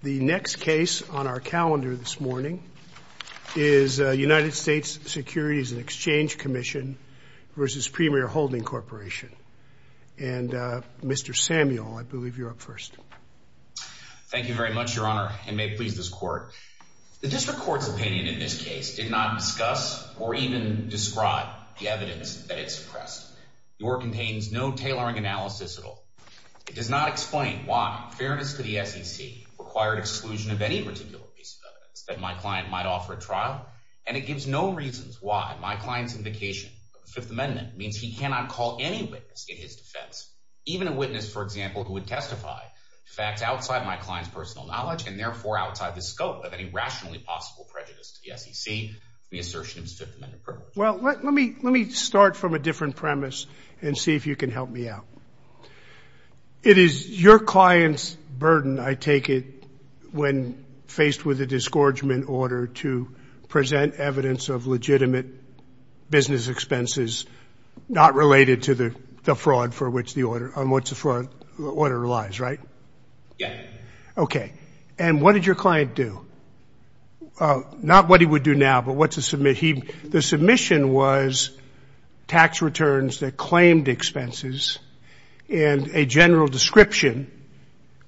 The next case on our calendar this morning is United States Securities and Exchange Commission v. Premier Holding Corporation, and Mr. Samuel, I believe you're up first. Thank you very much, Your Honor, and may it please this Court. The District Court's opinion in this case did not discuss or even describe the evidence that it suppressed, nor contains no tailoring analysis at all. It does not explain why fairness to the SEC required exclusion of any particular piece of evidence that my client might offer at trial, and it gives no reasons why my client's indication of the Fifth Amendment means he cannot call any witness in his defense, even a witness, for example, who would testify to facts outside my client's personal knowledge and therefore outside the scope of any rationally possible prejudice to the SEC in the assertion of his Fifth Amendment privilege. Well, let me start from a different premise and see if you can help me out. It is your client's burden, I take it, when faced with a disgorgement order to present evidence of legitimate business expenses not related to the fraud on which the order relies, right? Yes. Okay, and what did your client do? Not what he would do now, but what to submit. The submission was tax returns that claimed expenses and a general description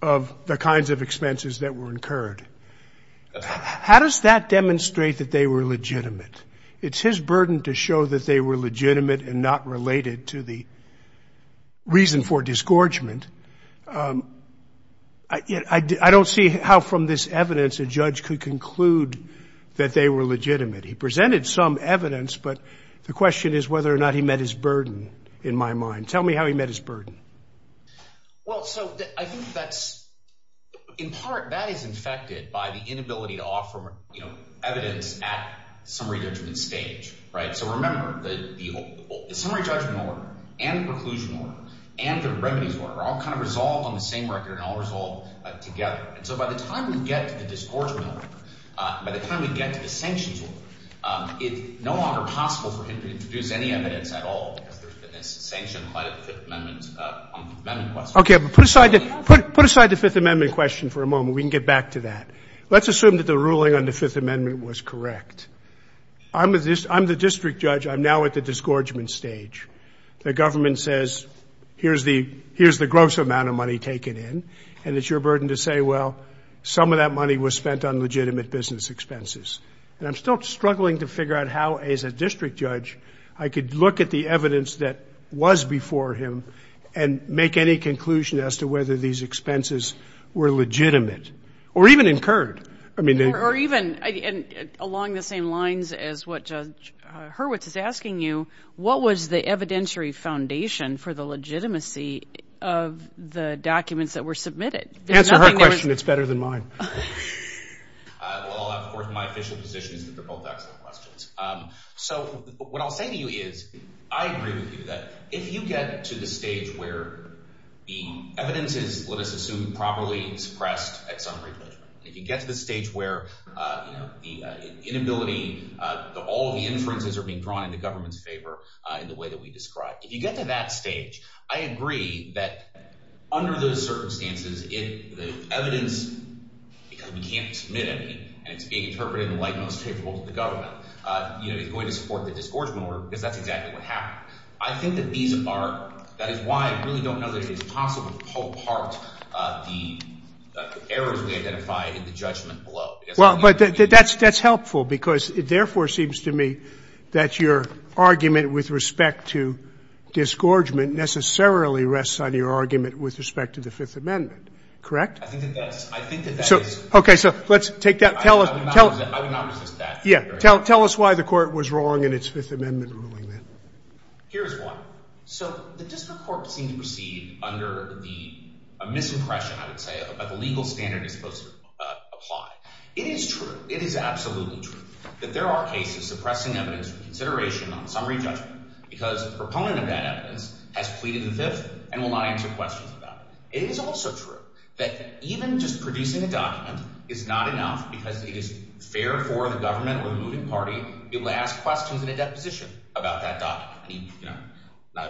of the kinds of expenses that were incurred. How does that demonstrate that they were legitimate? It's his burden to show that they were legitimate and not related to the reason for disgorgement. I don't see how from this evidence a judge could conclude that they were legitimate. He presented some evidence, but the question is whether or not he met his burden in my mind. Tell me how he met his burden. Well, so I think that's, in part, that is infected by the inability to offer, you know, evidence at summary judgment stage, right? So remember, the summary judgment order and the preclusion order and the remedies order are all kind of resolved on the same record and all resolved together. And so by the time we get to the disgorgement order, by the time we get to the sanctions order, it's no longer possible for him to introduce any evidence at all because there's been this sanction by the Fifth Amendment on the Fifth Amendment question. Okay, but put aside the Fifth Amendment question for a moment. We can get back to that. Let's assume that the ruling on the Fifth Amendment was correct. I'm the district judge. I'm now at the disgorgement stage. The government says, here's the gross amount of money taken in, and it's your burden to say, well, some of that money was spent on legitimate business expenses. And I'm still struggling to figure out how, as a district judge, I could look at the evidence that was before him and make any conclusion as to whether these expenses were legitimate or even incurred, I mean, they... Or even along the same lines as what Judge Hurwitz is asking you, what was the evidentiary foundation for the legitimacy of the documents that were submitted? Answer her question. It's better than mine. Well, of course, my official position is that they're both excellent questions. So what I'll say to you is, I agree with you that if you get to the stage where the evidence is, let us assume, properly suppressed at some rate, if you get to the stage where, you know, inability, all the inferences are being drawn in the government's favor in the way that we describe. If you get to that stage, I agree that under those circumstances, the evidence, because we can't submit any, and it's being interpreted in the light most favorable to the government, you know, is going to support the disgorgement order, because that's exactly what happened. I think that these are... That is why I really don't know that it is possible to pull apart the errors we identify in the judgment below. Well, but that's helpful, because it therefore seems to me that your argument with respect to disgorgement necessarily rests on your argument with respect to the Fifth Amendment, correct? I think that that is... Okay, so let's take that. I would not resist that. Yeah. Tell us why the court was wrong in its Fifth Amendment ruling, then. Here's one. So the district court seemed to proceed under the misimpression, I would say, but the legal standard is supposed to apply. It is true. It is absolutely true that there are cases suppressing evidence for consideration on summary judgment, because the proponent of that evidence has pleaded the Fifth and will not answer questions about it. It is also true that even just producing a document is not enough, because it is fair for the government or the moving party to be able to ask questions in a deposition about that document. I mean, you know, I'm not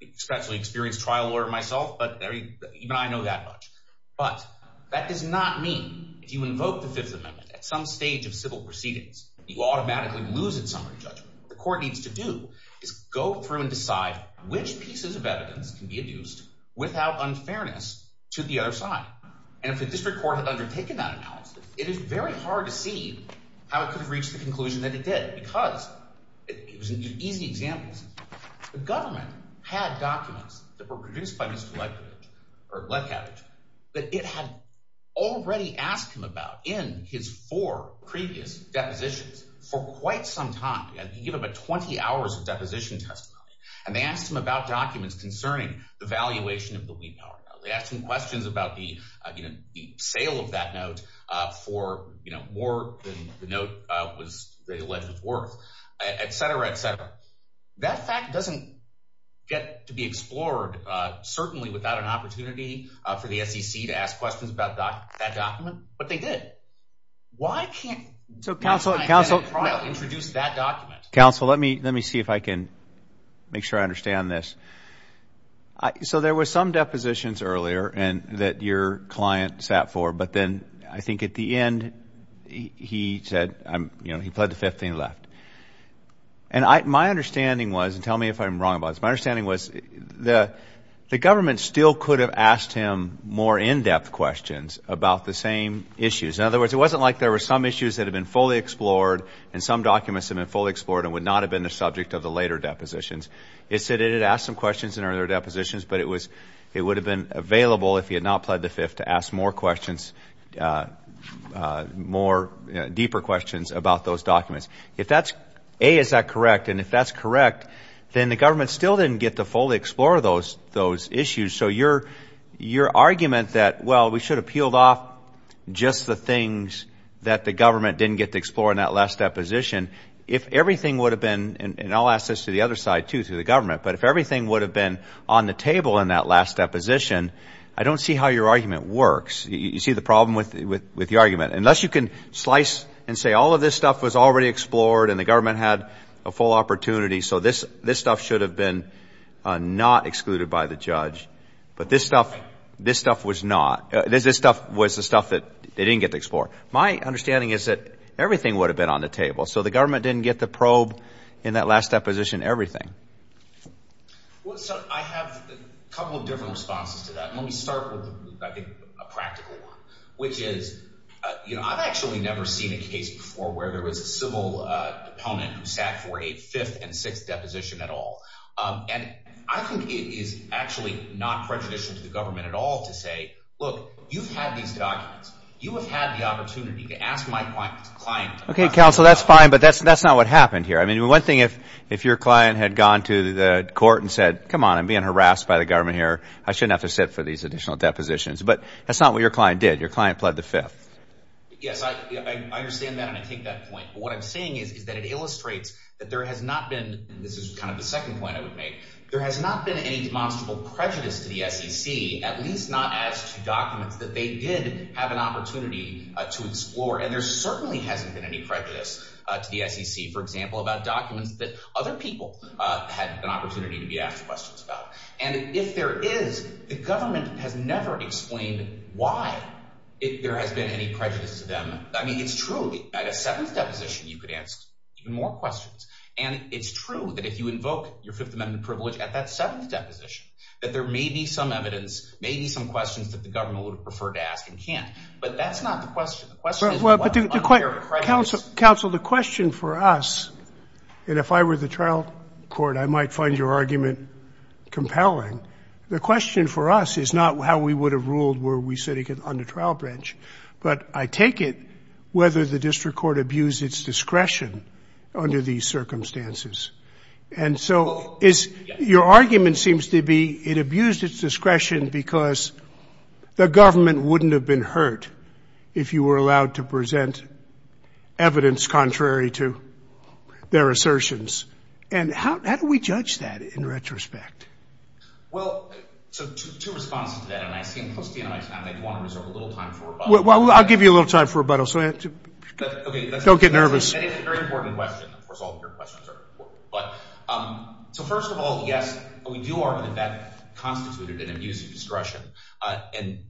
an especially experienced trial lawyer myself, but even I know that much. But that does not mean if you invoke the Fifth Amendment at some stage of civil proceedings, you automatically lose its summary judgment. What the court needs to do is go through and decide which pieces of evidence can be adduced without unfairness to the other side. And if the district court had undertaken that analysis, it is very hard to see how it could have reached the conclusion that it did, because it was easy examples. The government had documents that were produced by Mr. Letkavich that it had already asked him about in his four previous depositions for quite some time. And he gave about 20 hours of deposition testimony. And they asked him about documents concerning the valuation of the lead power. They asked him questions about the sale of that note for more than the note was they alleged was worth, et cetera, et cetera. That fact doesn't get to be explored, certainly, without an opportunity for the SEC to ask questions about that document. But they did. Why can't counsel introduce that document? Counsel, let me let me see if I can make sure I understand this. So there were some depositions earlier and that your client sat for. But then I think at the end, he said, you know, he pled the 15th and left. And my understanding was, and tell me if I'm wrong about this. My understanding was the government still could have asked him more in-depth questions about the same issues. In other words, it wasn't like there were some issues that have been fully explored and some documents have been fully explored and would not have been the subject of the later depositions. It said it had asked some questions in earlier depositions, but it was it would have been available if he had not pled the fifth to ask more questions, more deeper questions about those documents. If that's A, is that correct? And if that's correct, then the government still didn't get to fully explore those those issues. So your your argument that, well, we should have peeled off just the things that the government didn't get to explore in that last deposition. If everything would have been and I'll ask this to the other side, too, to the government. But if everything would have been on the table in that last deposition, I don't see how your argument works. You see the problem with the argument. Unless you can slice and say all of this stuff was already explored and the government had a full opportunity. So this this stuff should have been not excluded by the judge. But this stuff, this stuff was not this. This stuff was the stuff that they didn't get to explore. My understanding is that everything would have been on the table. So the government didn't get the probe in that last deposition. Everything. So I have a couple of different responses to that. I think a practical one, which is, you know, I've actually never seen a case before where there was a civil opponent who sat for a fifth and sixth deposition at all. And I think it is actually not prejudicial to the government at all to say, look, you've had these documents. You have had the opportunity to ask my client. OK, counsel, that's fine. But that's that's not what happened here. I mean, one thing if if your client had gone to the court and said, come on, I'm being harassed by the government here. I shouldn't have to sit for these additional depositions. But that's not what your client did. Your client pled the fifth. Yes, I understand that. And I take that point. But what I'm saying is that it illustrates that there has not been. This is kind of the second point I would make. There has not been any demonstrable prejudice to the SEC, at least not as to documents that they did have an opportunity to explore. And there certainly hasn't been any prejudice to the SEC, for example, about documents that other people had an opportunity to be asked questions about. And if there is, the government has never explained why there has been any prejudice to them. I mean, it's true. At a seventh deposition, you could ask more questions. And it's true that if you invoke your Fifth Amendment privilege at that seventh deposition, that there may be some evidence, maybe some questions that the government would prefer to ask and can't. But that's not the question. The question is. Counsel, the question for us, and if I were the trial court, I might find your argument compelling. The question for us is not how we would have ruled were we sitting on the trial branch, but I take it whether the district court abused its discretion under these circumstances. And so is your argument seems to be it abused its discretion because the government wouldn't have been hurt if you were allowed to present evidence contrary to their assertions. And how do we judge that in retrospect? Well, I'll give you a little time for rebuttal. So don't get nervous. So first of all, yes, we do argue that that constituted an abuse of discretion. And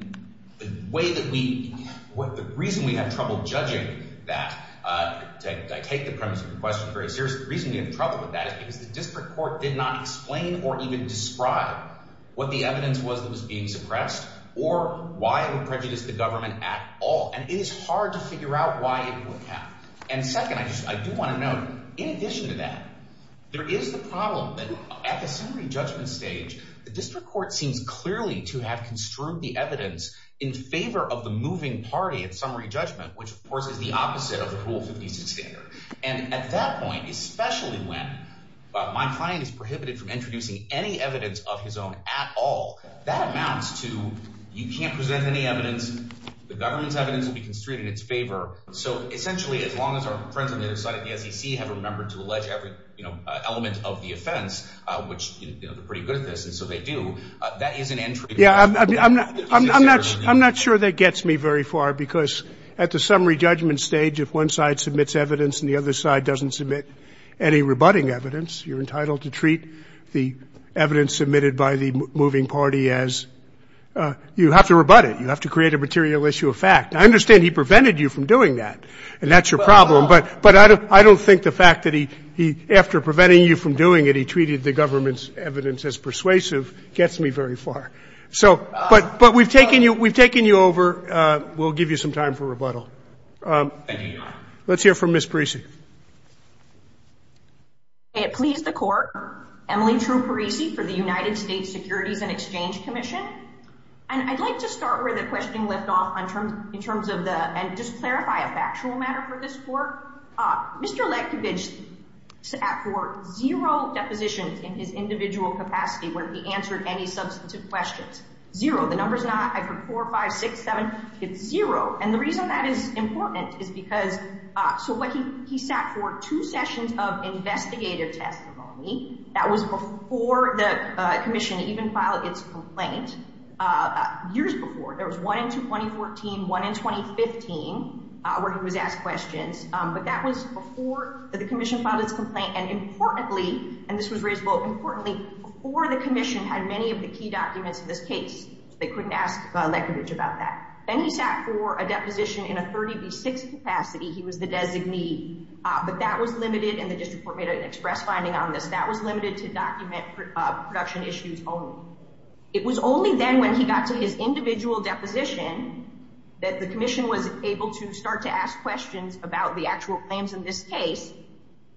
the way that we what the reason we have trouble judging that I take the premise of your question very seriously. The reason we have trouble with that is because the district court did not explain or even describe what the evidence was that was being suppressed or why it would prejudice the government at all. And it is hard to figure out why it would happen. And second, I just I do want to note, in addition to that, there is the problem that at the summary judgment stage, the district court seems clearly to have construed the evidence in favor of the moving party at summary judgment, which, of course, is the opposite of the Rule 56 standard. And at that point, especially when my client is prohibited from introducing any evidence of his own at all, that amounts to you can't present any evidence. The government's evidence will be construed in its favor. So essentially, as long as our friends on the other side of the SEC have remembered to allege every element of the offense, which they're pretty good at this, and so they do, that is an entry. Yeah, I'm not I'm not I'm not sure that gets me very far, because at the summary judgment stage, if one side submits evidence and the other side doesn't submit any rebutting evidence, you're entitled to treat the evidence submitted by the moving party as you have to rebut it. You have to create a material issue of fact. I understand he prevented you from doing that, and that's your problem. But but I don't I don't think the fact that he he after preventing you from doing it, he treated the government's evidence as persuasive gets me very far. So but but we've taken you we've taken you over. We'll give you some time for rebuttal. Let's hear from Miss Parisi. May it please the court. Emily True Parisi for the United States Securities and Exchange Commission. And I'd like to start with a question left off in terms in terms of the and just clarify a factual matter for this court. Mr. Lankovich at for zero depositions in his individual capacity where he answered any substantive questions. Zero. The number's not four, five, six, seven. It's zero. And the reason that is important is because so what he he sat for two sessions of investigative testimony. That was before the commission even filed its complaint years before. There was one in 2014, one in 2015 where he was asked questions. But that was before the commission filed its complaint. And importantly, and this was raised both importantly for the commission had many of the key documents in this case. They couldn't ask Lankovich about that. And he sat for a deposition in a 36 capacity. He was the designee, but that was limited. And the district court made an express finding on this. That was limited to document production issues only. It was only then when he got to his individual deposition that the commission was able to start to ask questions about the actual claims in this case.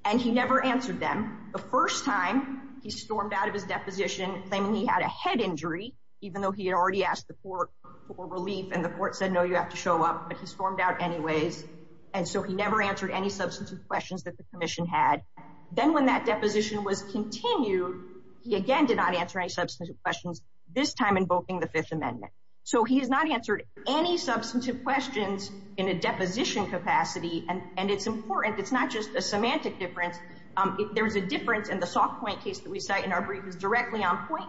And he never answered them. The first time he stormed out of his deposition, claiming he had a head injury, even though he had already asked the court for relief. And the court said, no, you have to show up. But he stormed out anyways. And so he never answered any substantive questions that the commission had. Then when that deposition was continued, he again did not answer any substantive questions, this time invoking the Fifth Amendment. So he has not answered any substantive questions in a deposition capacity. And it's important. It's not just a semantic difference. There's a difference in the soft point case that we cite in our brief is directly on point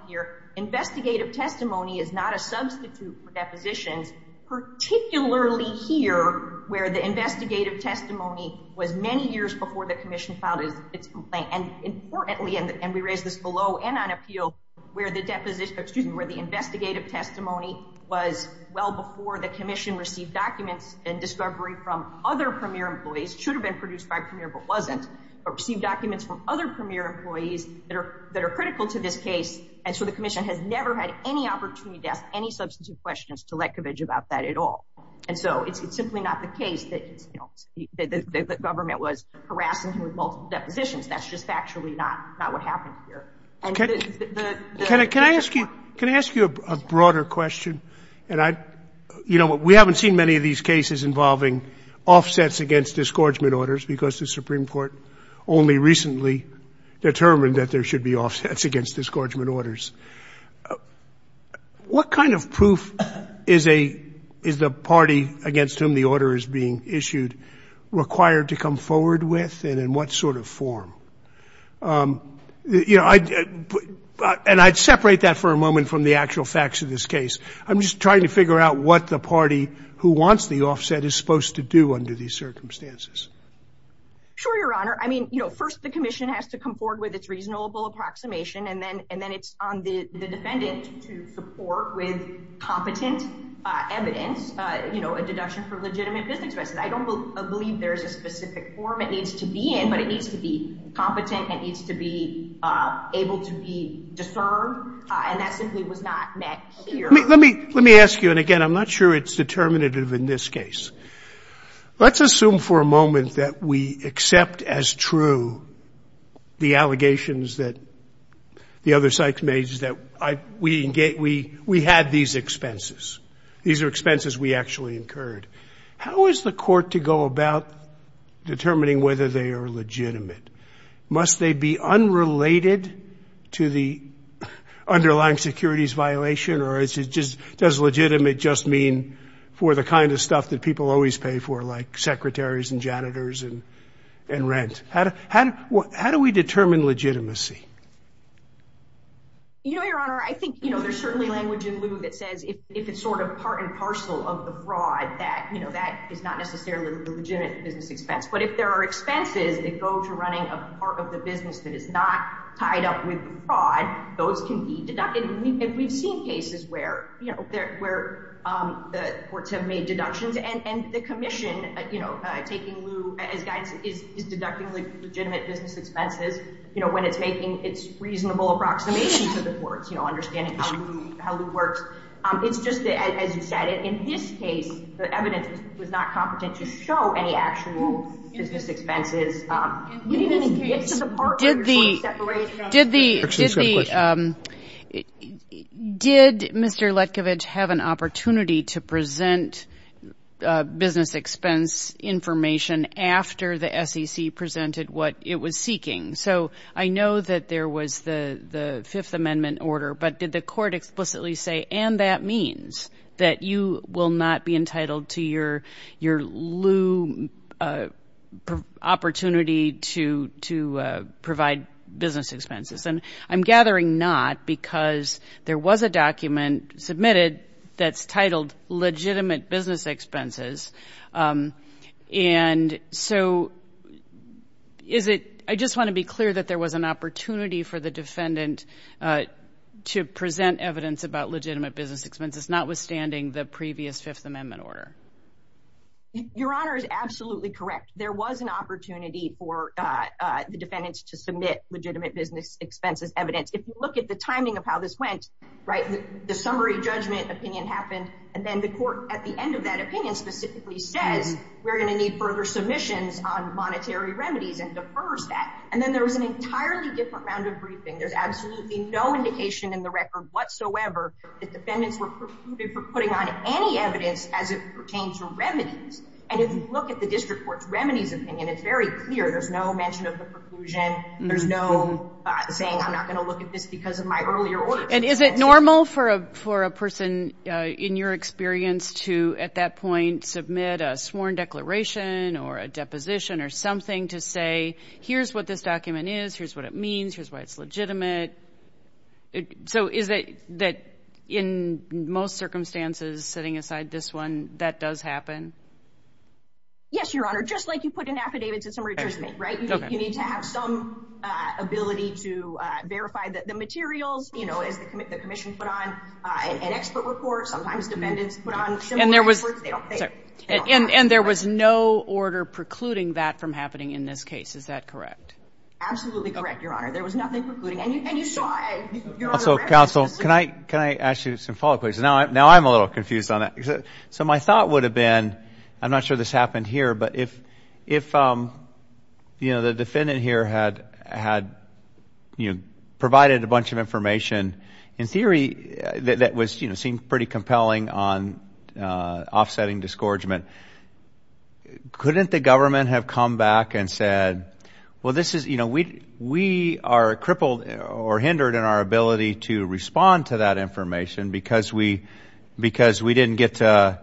investigative testimony is not a substitute for depositions, particularly here, where the investigative testimony was many years before the commission filed its complaint. And importantly, and we raise this below and on appeal, where the deposition, excuse me, where the investigative testimony was well before the commission received documents and discovery from other premier employees should have been produced by premier, but wasn't or receive documents from other premier employees that are that are critical to this case. And so the commission has never had any opportunity to ask any substantive questions to Lekovich about that at all. And so it's simply not the case that the government was harassing him with multiple depositions. That's just actually not not what happened here. Can I ask you, can I ask you a broader question? And I, you know, we haven't seen many of these cases involving offsets against disgorgement orders because the Supreme Court only recently determined that there should be offsets against disgorgement orders. What kind of proof is a is the party against whom the order is being issued required to come forward with and in what sort of form? You know, and I'd separate that for a moment from the actual facts of this case. I'm just trying to figure out what the party who wants the offset is supposed to do under these circumstances. Sure, Your Honor. I mean, you know, first the commission has to come forward with its reasonable approximation and then and then it's on the defendant to support with competent evidence, you know, a deduction for legitimate business. I don't believe there's a specific form it needs to be in, but it needs to be competent. It needs to be able to be discerned. And that simply was not met here. Let me let me ask you. And again, I'm not sure it's determinative in this case. Let's assume for a moment that we accept as true the allegations that the other sites made that we had these expenses. These are expenses we actually incurred. How is the court to go about determining whether they are legitimate? Must they be unrelated to the underlying securities violation? Does legitimate just mean for the kind of stuff that people always pay for, like secretaries and janitors and rent? How do we determine legitimacy? You know, Your Honor, I think, you know, there's certainly language in lieu that says if it's sort of part and parcel of the fraud that, you know, that is not necessarily a legitimate business expense. But if there are expenses that go to running a part of the business that is not tied up with fraud, those can be deducted. And we've seen cases where, you know, where the courts have made deductions and the commission, you know, taking lieu as guidance is deducting legitimate business expenses, you know, when it's making its reasonable approximation to the courts, you know, understanding how lieu works. It's just that, as you said, in this case, the evidence was not competent to show any actual business expenses. Did Mr. Letkovich have an opportunity to present business expense information after the SEC presented what it was seeking? So I know that there was the Fifth Amendment order, but did the court explicitly say, and that means that you will not be entitled to your lieu opportunity to provide business expenses? And I'm gathering not because there was a document submitted that's titled legitimate business expenses. And so is it, I just want to be clear that there was an opportunity for the defendant to present evidence about legitimate business expenses, notwithstanding the previous Fifth Amendment order? Your Honor is absolutely correct. There was an opportunity for the defendants to submit legitimate business expenses evidence. If you look at the timing of how this went, right, the summary judgment opinion happened, and then the court at the end of that opinion specifically says we're going to need further submissions on monetary remedies and defers that. And then there was an entirely different round of briefing. There's absolutely no indication in the record whatsoever that defendants were procluded for putting on any evidence as it pertains to remedies. And if you look at the district court's remedies opinion, it's very clear. There's no mention of the preclusion. There's no saying, I'm not going to look at this because of my earlier order. And is it normal for a person in your experience to, at that point, submit a sworn declaration or a deposition or something to say, here's what this document is, here's what it means, here's why it's legitimate. So is it that in most circumstances, setting aside this one, that does happen? Yes, Your Honor. Just like you put an affidavit to summary judgment, right? You need to have some ability to verify the materials, you know, as the commission put on an expert report, sometimes defendants put on similar experts. And there was no order precluding that from happening in this case. Is that correct? Absolutely correct, Your Honor. There was nothing precluding. And you saw, Your Honor. Also, counsel, can I ask you some follow-up questions? Now, I'm a little confused on that. So my thought would have been, I'm not sure this happened here, but if, you know, the defendant here had, you know, provided a bunch of information, in theory, that was, you know, seemed pretty compelling on offsetting disgorgement, couldn't the government have come back and said, well, this is, you know, we are crippled or hindered in our ability to respond to that information because we didn't get to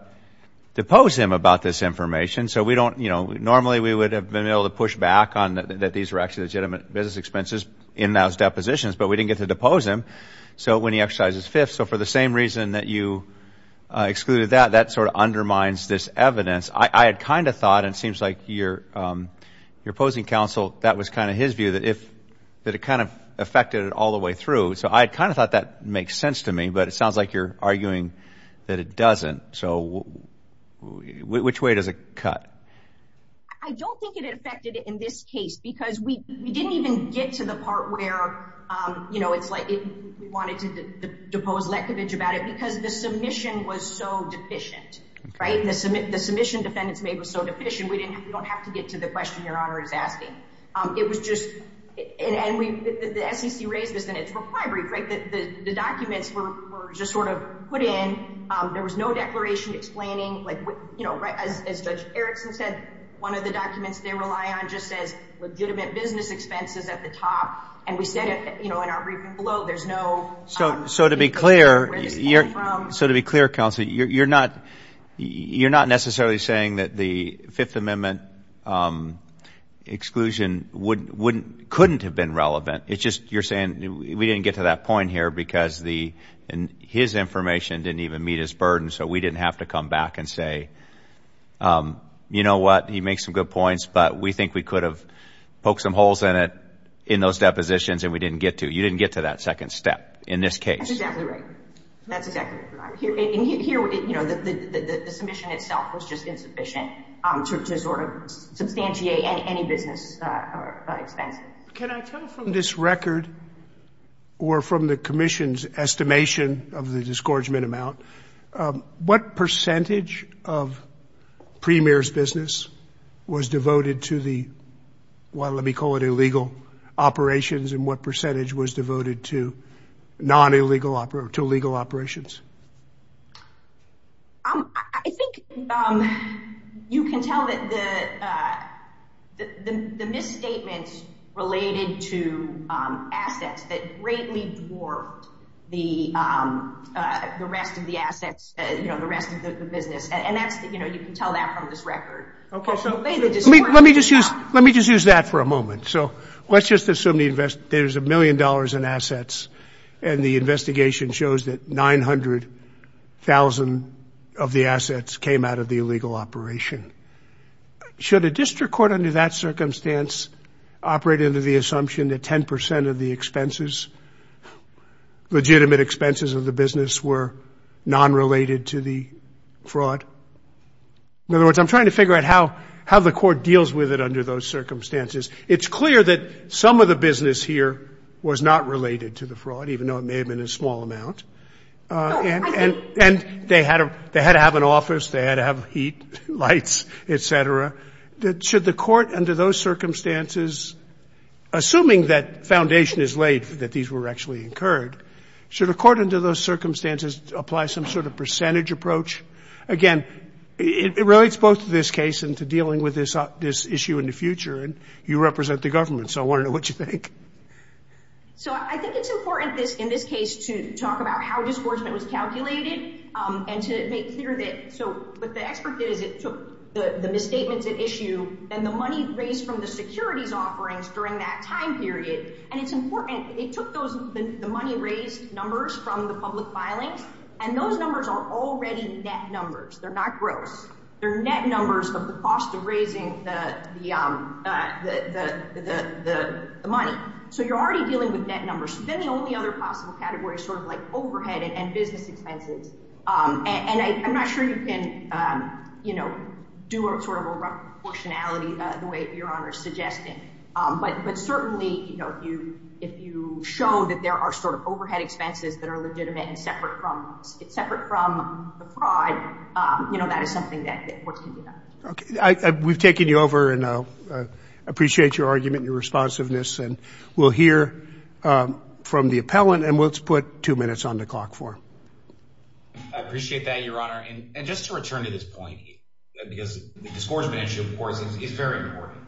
depose him about this information. So we don't, you know, normally, we would have been able to push back on that these were actually legitimate business expenses in those depositions, but we didn't get to depose him. So when he exercises fifth, so for the same reason that you excluded that, that sort of undermines this evidence. I had kind of thought, and it seems like your opposing counsel, that was kind of his view, that if, that it kind of affected it all the way through. So I kind of thought that makes sense to me, but it sounds like you're arguing that it doesn't. So which way does it cut? I don't think it affected it in this case because we didn't even get to the part where, you know, it's like we wanted to depose Lekovic about it because the submission was so deficient, right? The submission defendants made was so deficient, we don't have to get to the question your honor is asking. It was just, and the SEC raised this in its reply brief, right? That the documents were just sort of put in, there was no declaration explaining, like, you know, as Judge Erickson said, one of the documents they rely on just says legitimate business expenses at the top, and we said it, you know, in our briefing below, there's no... So to be clear, counsel, you're not necessarily saying that the Fifth Amendment exclusion couldn't have been relevant. It's just you're saying we didn't get to that point here because his information didn't even meet his burden, so we didn't have to come back and say, you know what, he makes some good points, but we think we could have poked some holes in it in those depositions and we didn't get to. In this case. That's exactly right. That's exactly right. Here, you know, the submission itself was just insufficient to sort of substantiate any business expense. Can I tell from this record or from the commission's estimation of the disgorgement amount, what percentage of Premier's business was devoted to the, well, let me call it illegal operations and what percentage was devoted to non-illegal, to illegal operations? I think you can tell that the misstatements related to assets that greatly dwarfed the rest of the assets, you know, the rest of the business, and that's, you know, you can tell that from this record. Okay, so let me just use, let me just use that for a moment. So let's just assume the invest, there's a million dollars in assets and the investigation shows that 900,000 of the assets came out of the illegal operation. Should a district court under that circumstance operate under the assumption that 10% of the expenses, legitimate expenses of the business were non-related to the fraud? In other words, I'm trying to figure out how the court deals with it under those circumstances. It's clear that some of the business here was not related to the fraud, even though it may have been a small amount, and they had to have an office, they had to have heat, lights, et cetera. Should the court under those circumstances, assuming that foundation is laid that these were actually incurred, should a court under those circumstances apply some sort of percentage approach? Again, it relates both to this case and to dealing with this issue in the future, and you represent the government. So I want to know what you think. So I think it's important in this case to talk about how disgorgement was calculated and to make clear that, so what the expert did is it took the misstatements at issue and the money raised from the securities offerings during that time period, and it's important, it took those, the money raised numbers from the public filings, and those numbers are already net numbers. They're not gross. They're net numbers of the cost of raising the money. So you're already dealing with net numbers. Then the only other possible category is sort of like overhead and business expenses, and I'm not sure you can do sort of a rough proportionality the way Your Honor is suggesting, but certainly if you show that there are sort of overhead expenses that are legitimate and separate from the fraud, that is something that courts can do that. Okay. We've taken you over, and I appreciate your argument and your responsiveness, and we'll hear from the appellant, and let's put two minutes on the clock for him. I appreciate that, Your Honor, and just to return to this point, because the disgorgement issue, of course, is very important.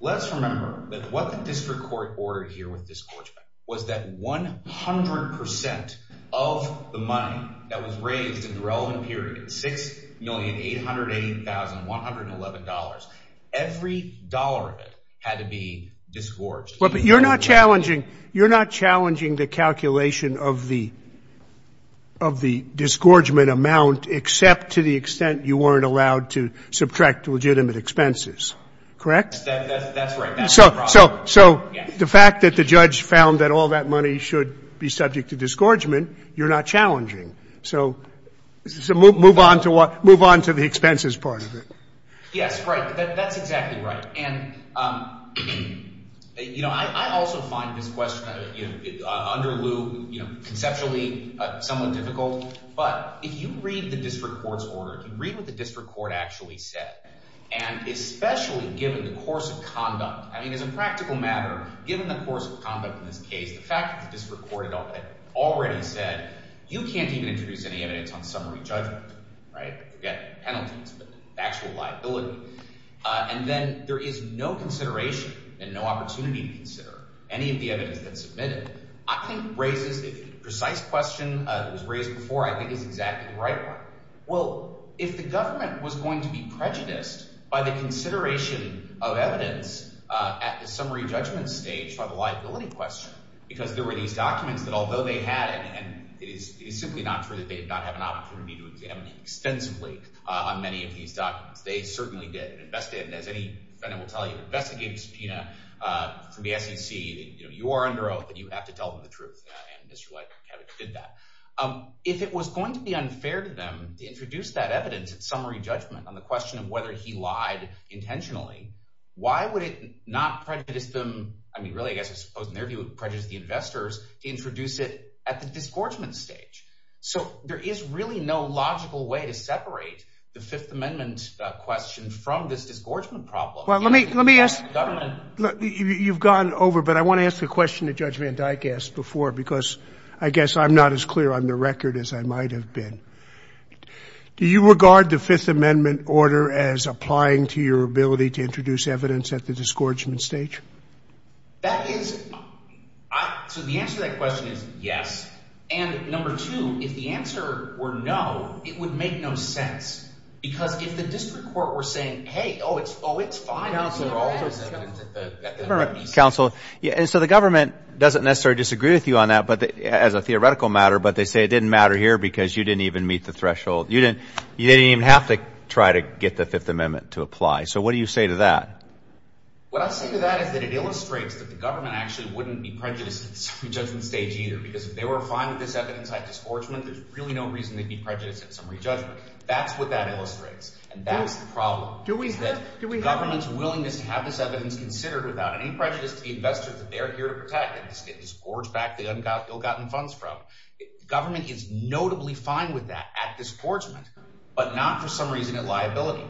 Let's remember that what the district court ordered here with disgorgement was that 100% of the money that was raised in the relevant period, $6,888,111, every dollar of it had to be disgorged. You're not challenging the calculation of the disgorgement amount except to the extent you weren't allowed to subtract legitimate expenses, correct? That's right. So the fact that the judge found that all that money should be subject to disgorgement, you're not challenging. So move on to the expenses part of it. Yes, right. That's exactly right. And I also find this question under lieu, conceptually somewhat difficult, but if you read the district court's order, if you read what the district court actually said, and especially given the course of conduct, I mean, as a practical matter, given the course of conduct in this case, the fact that the district court had already said, you can't even introduce any evidence on summary judgment, right? You've got penalties, but actual liability. And then there is no consideration and no opportunity to consider any of the evidence that's submitted, I think raises a precise question that was raised before, I think is exactly the right one. Well, if the government was going to be prejudiced by the consideration of evidence at the summary judgment stage for the liability question, because there were these documents that although they had, and it is simply not true that they did not have an opportunity to examine extensively on many of these documents, they certainly did invest in, as any defendant will tell you, investigative subpoena from the SEC, you are under oath and you have to tell them the truth. And this is what did that. If it was going to be unfair to them to introduce that evidence at summary judgment on the question of whether he lied intentionally, why would it not prejudice them? I mean, really, I guess I suppose in their view, prejudice the investors to introduce it at the disgorgement stage. So there is really no logical way to separate the Fifth Amendment question from this disgorgement problem. Well, let me, let me ask you, you've gone over, but I want to ask the question that Judge Van Dyke asked before, because I guess I'm not as clear on the record as I might have been. Do you regard the Fifth Amendment order as applying to your ability to introduce evidence at the disgorgement stage? That is, so the answer to that question is yes. And number two, if the answer were no, it would make no sense because if the district court were saying, hey, oh, it's, oh, it's fine. So the government doesn't necessarily disagree with you on that, but as a theoretical matter, but they say it didn't matter here because you didn't even meet the threshold. You didn't, you didn't even have to try to get the Fifth Amendment to apply. So what do you say to that? What I say to that is that it illustrates that the government actually wouldn't be prejudiced at the summary judgment stage either, because if they were fine with this evidence at disgorgement, there's really no reason they'd be prejudiced at summary judgment. That's what that illustrates. And that's the problem. Is that government's willingness to have this evidence considered without any prejudice to the investors that they're here to protect and disgorge back the ill-gotten funds from. Government is notably fine with that at disgorgement, but not for some reason at liability.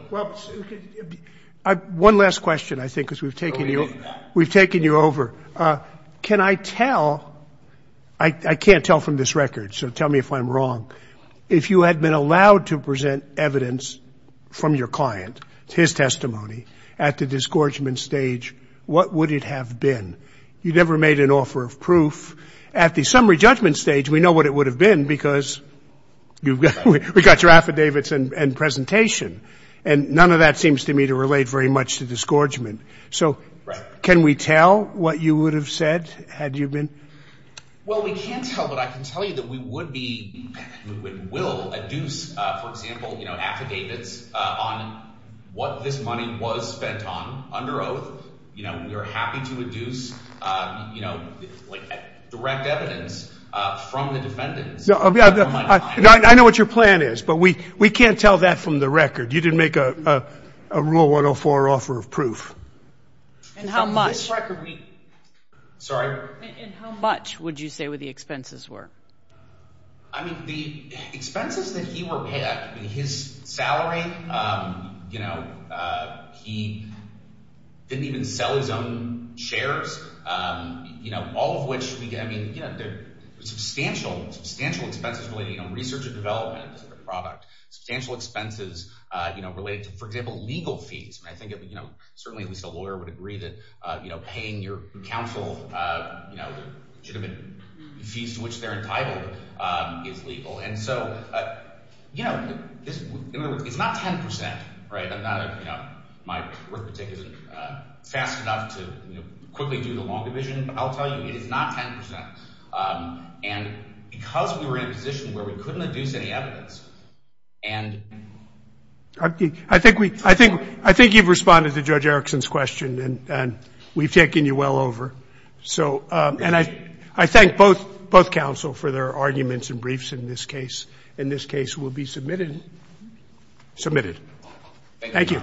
One last question, I think, because we've taken you, we've taken you over. Can I tell, I can't tell from this record, so tell me if I'm wrong. If you had been allowed to present evidence from your client, his testimony at the disgorgement stage, what would it have been? You never made an offer of proof at the summary judgment stage. We know what it would have been because you've got, we got your affidavits and presentation and none of that seems to me to relate very much to disgorgement. So can we tell what you would have said had you been? Well, we can't tell, but I can tell you that we would be, we will adduce, for example, you know, affidavits on what this money was spent on under oath. You know, we are happy to induce, you know, like direct evidence from the defendants. I know what your plan is, but we, we can't tell that from the record. You didn't make a rule 104 offer of proof. And how much? And how much would you say what the expenses were? I mean, the expenses that he were paid, I mean, his salary, you know, he didn't even sell his own shares, you know, all of which we get, I mean, you know, substantial, substantial expenses related, you know, research and development of the product, substantial expenses, you know, related to, for example, legal fees. And I think, you know, certainly at least a lawyer would agree that, you know, paying your counsel, you know, should have been fees to which they're entitled is legal. And so, you know, in other words, it's not 10%, right? I'm not, you know, my work is fast enough to quickly do the long division, but I'll tell you, it is not 10%. And because we were in a position where we couldn't induce any evidence and. I think we, I think, I think you've responded to Judge Erickson's question and we've taken you well over. So, and I, I thank both, both counsel for their arguments and briefs in this case. In this case will be submitted, submitted. Thank you.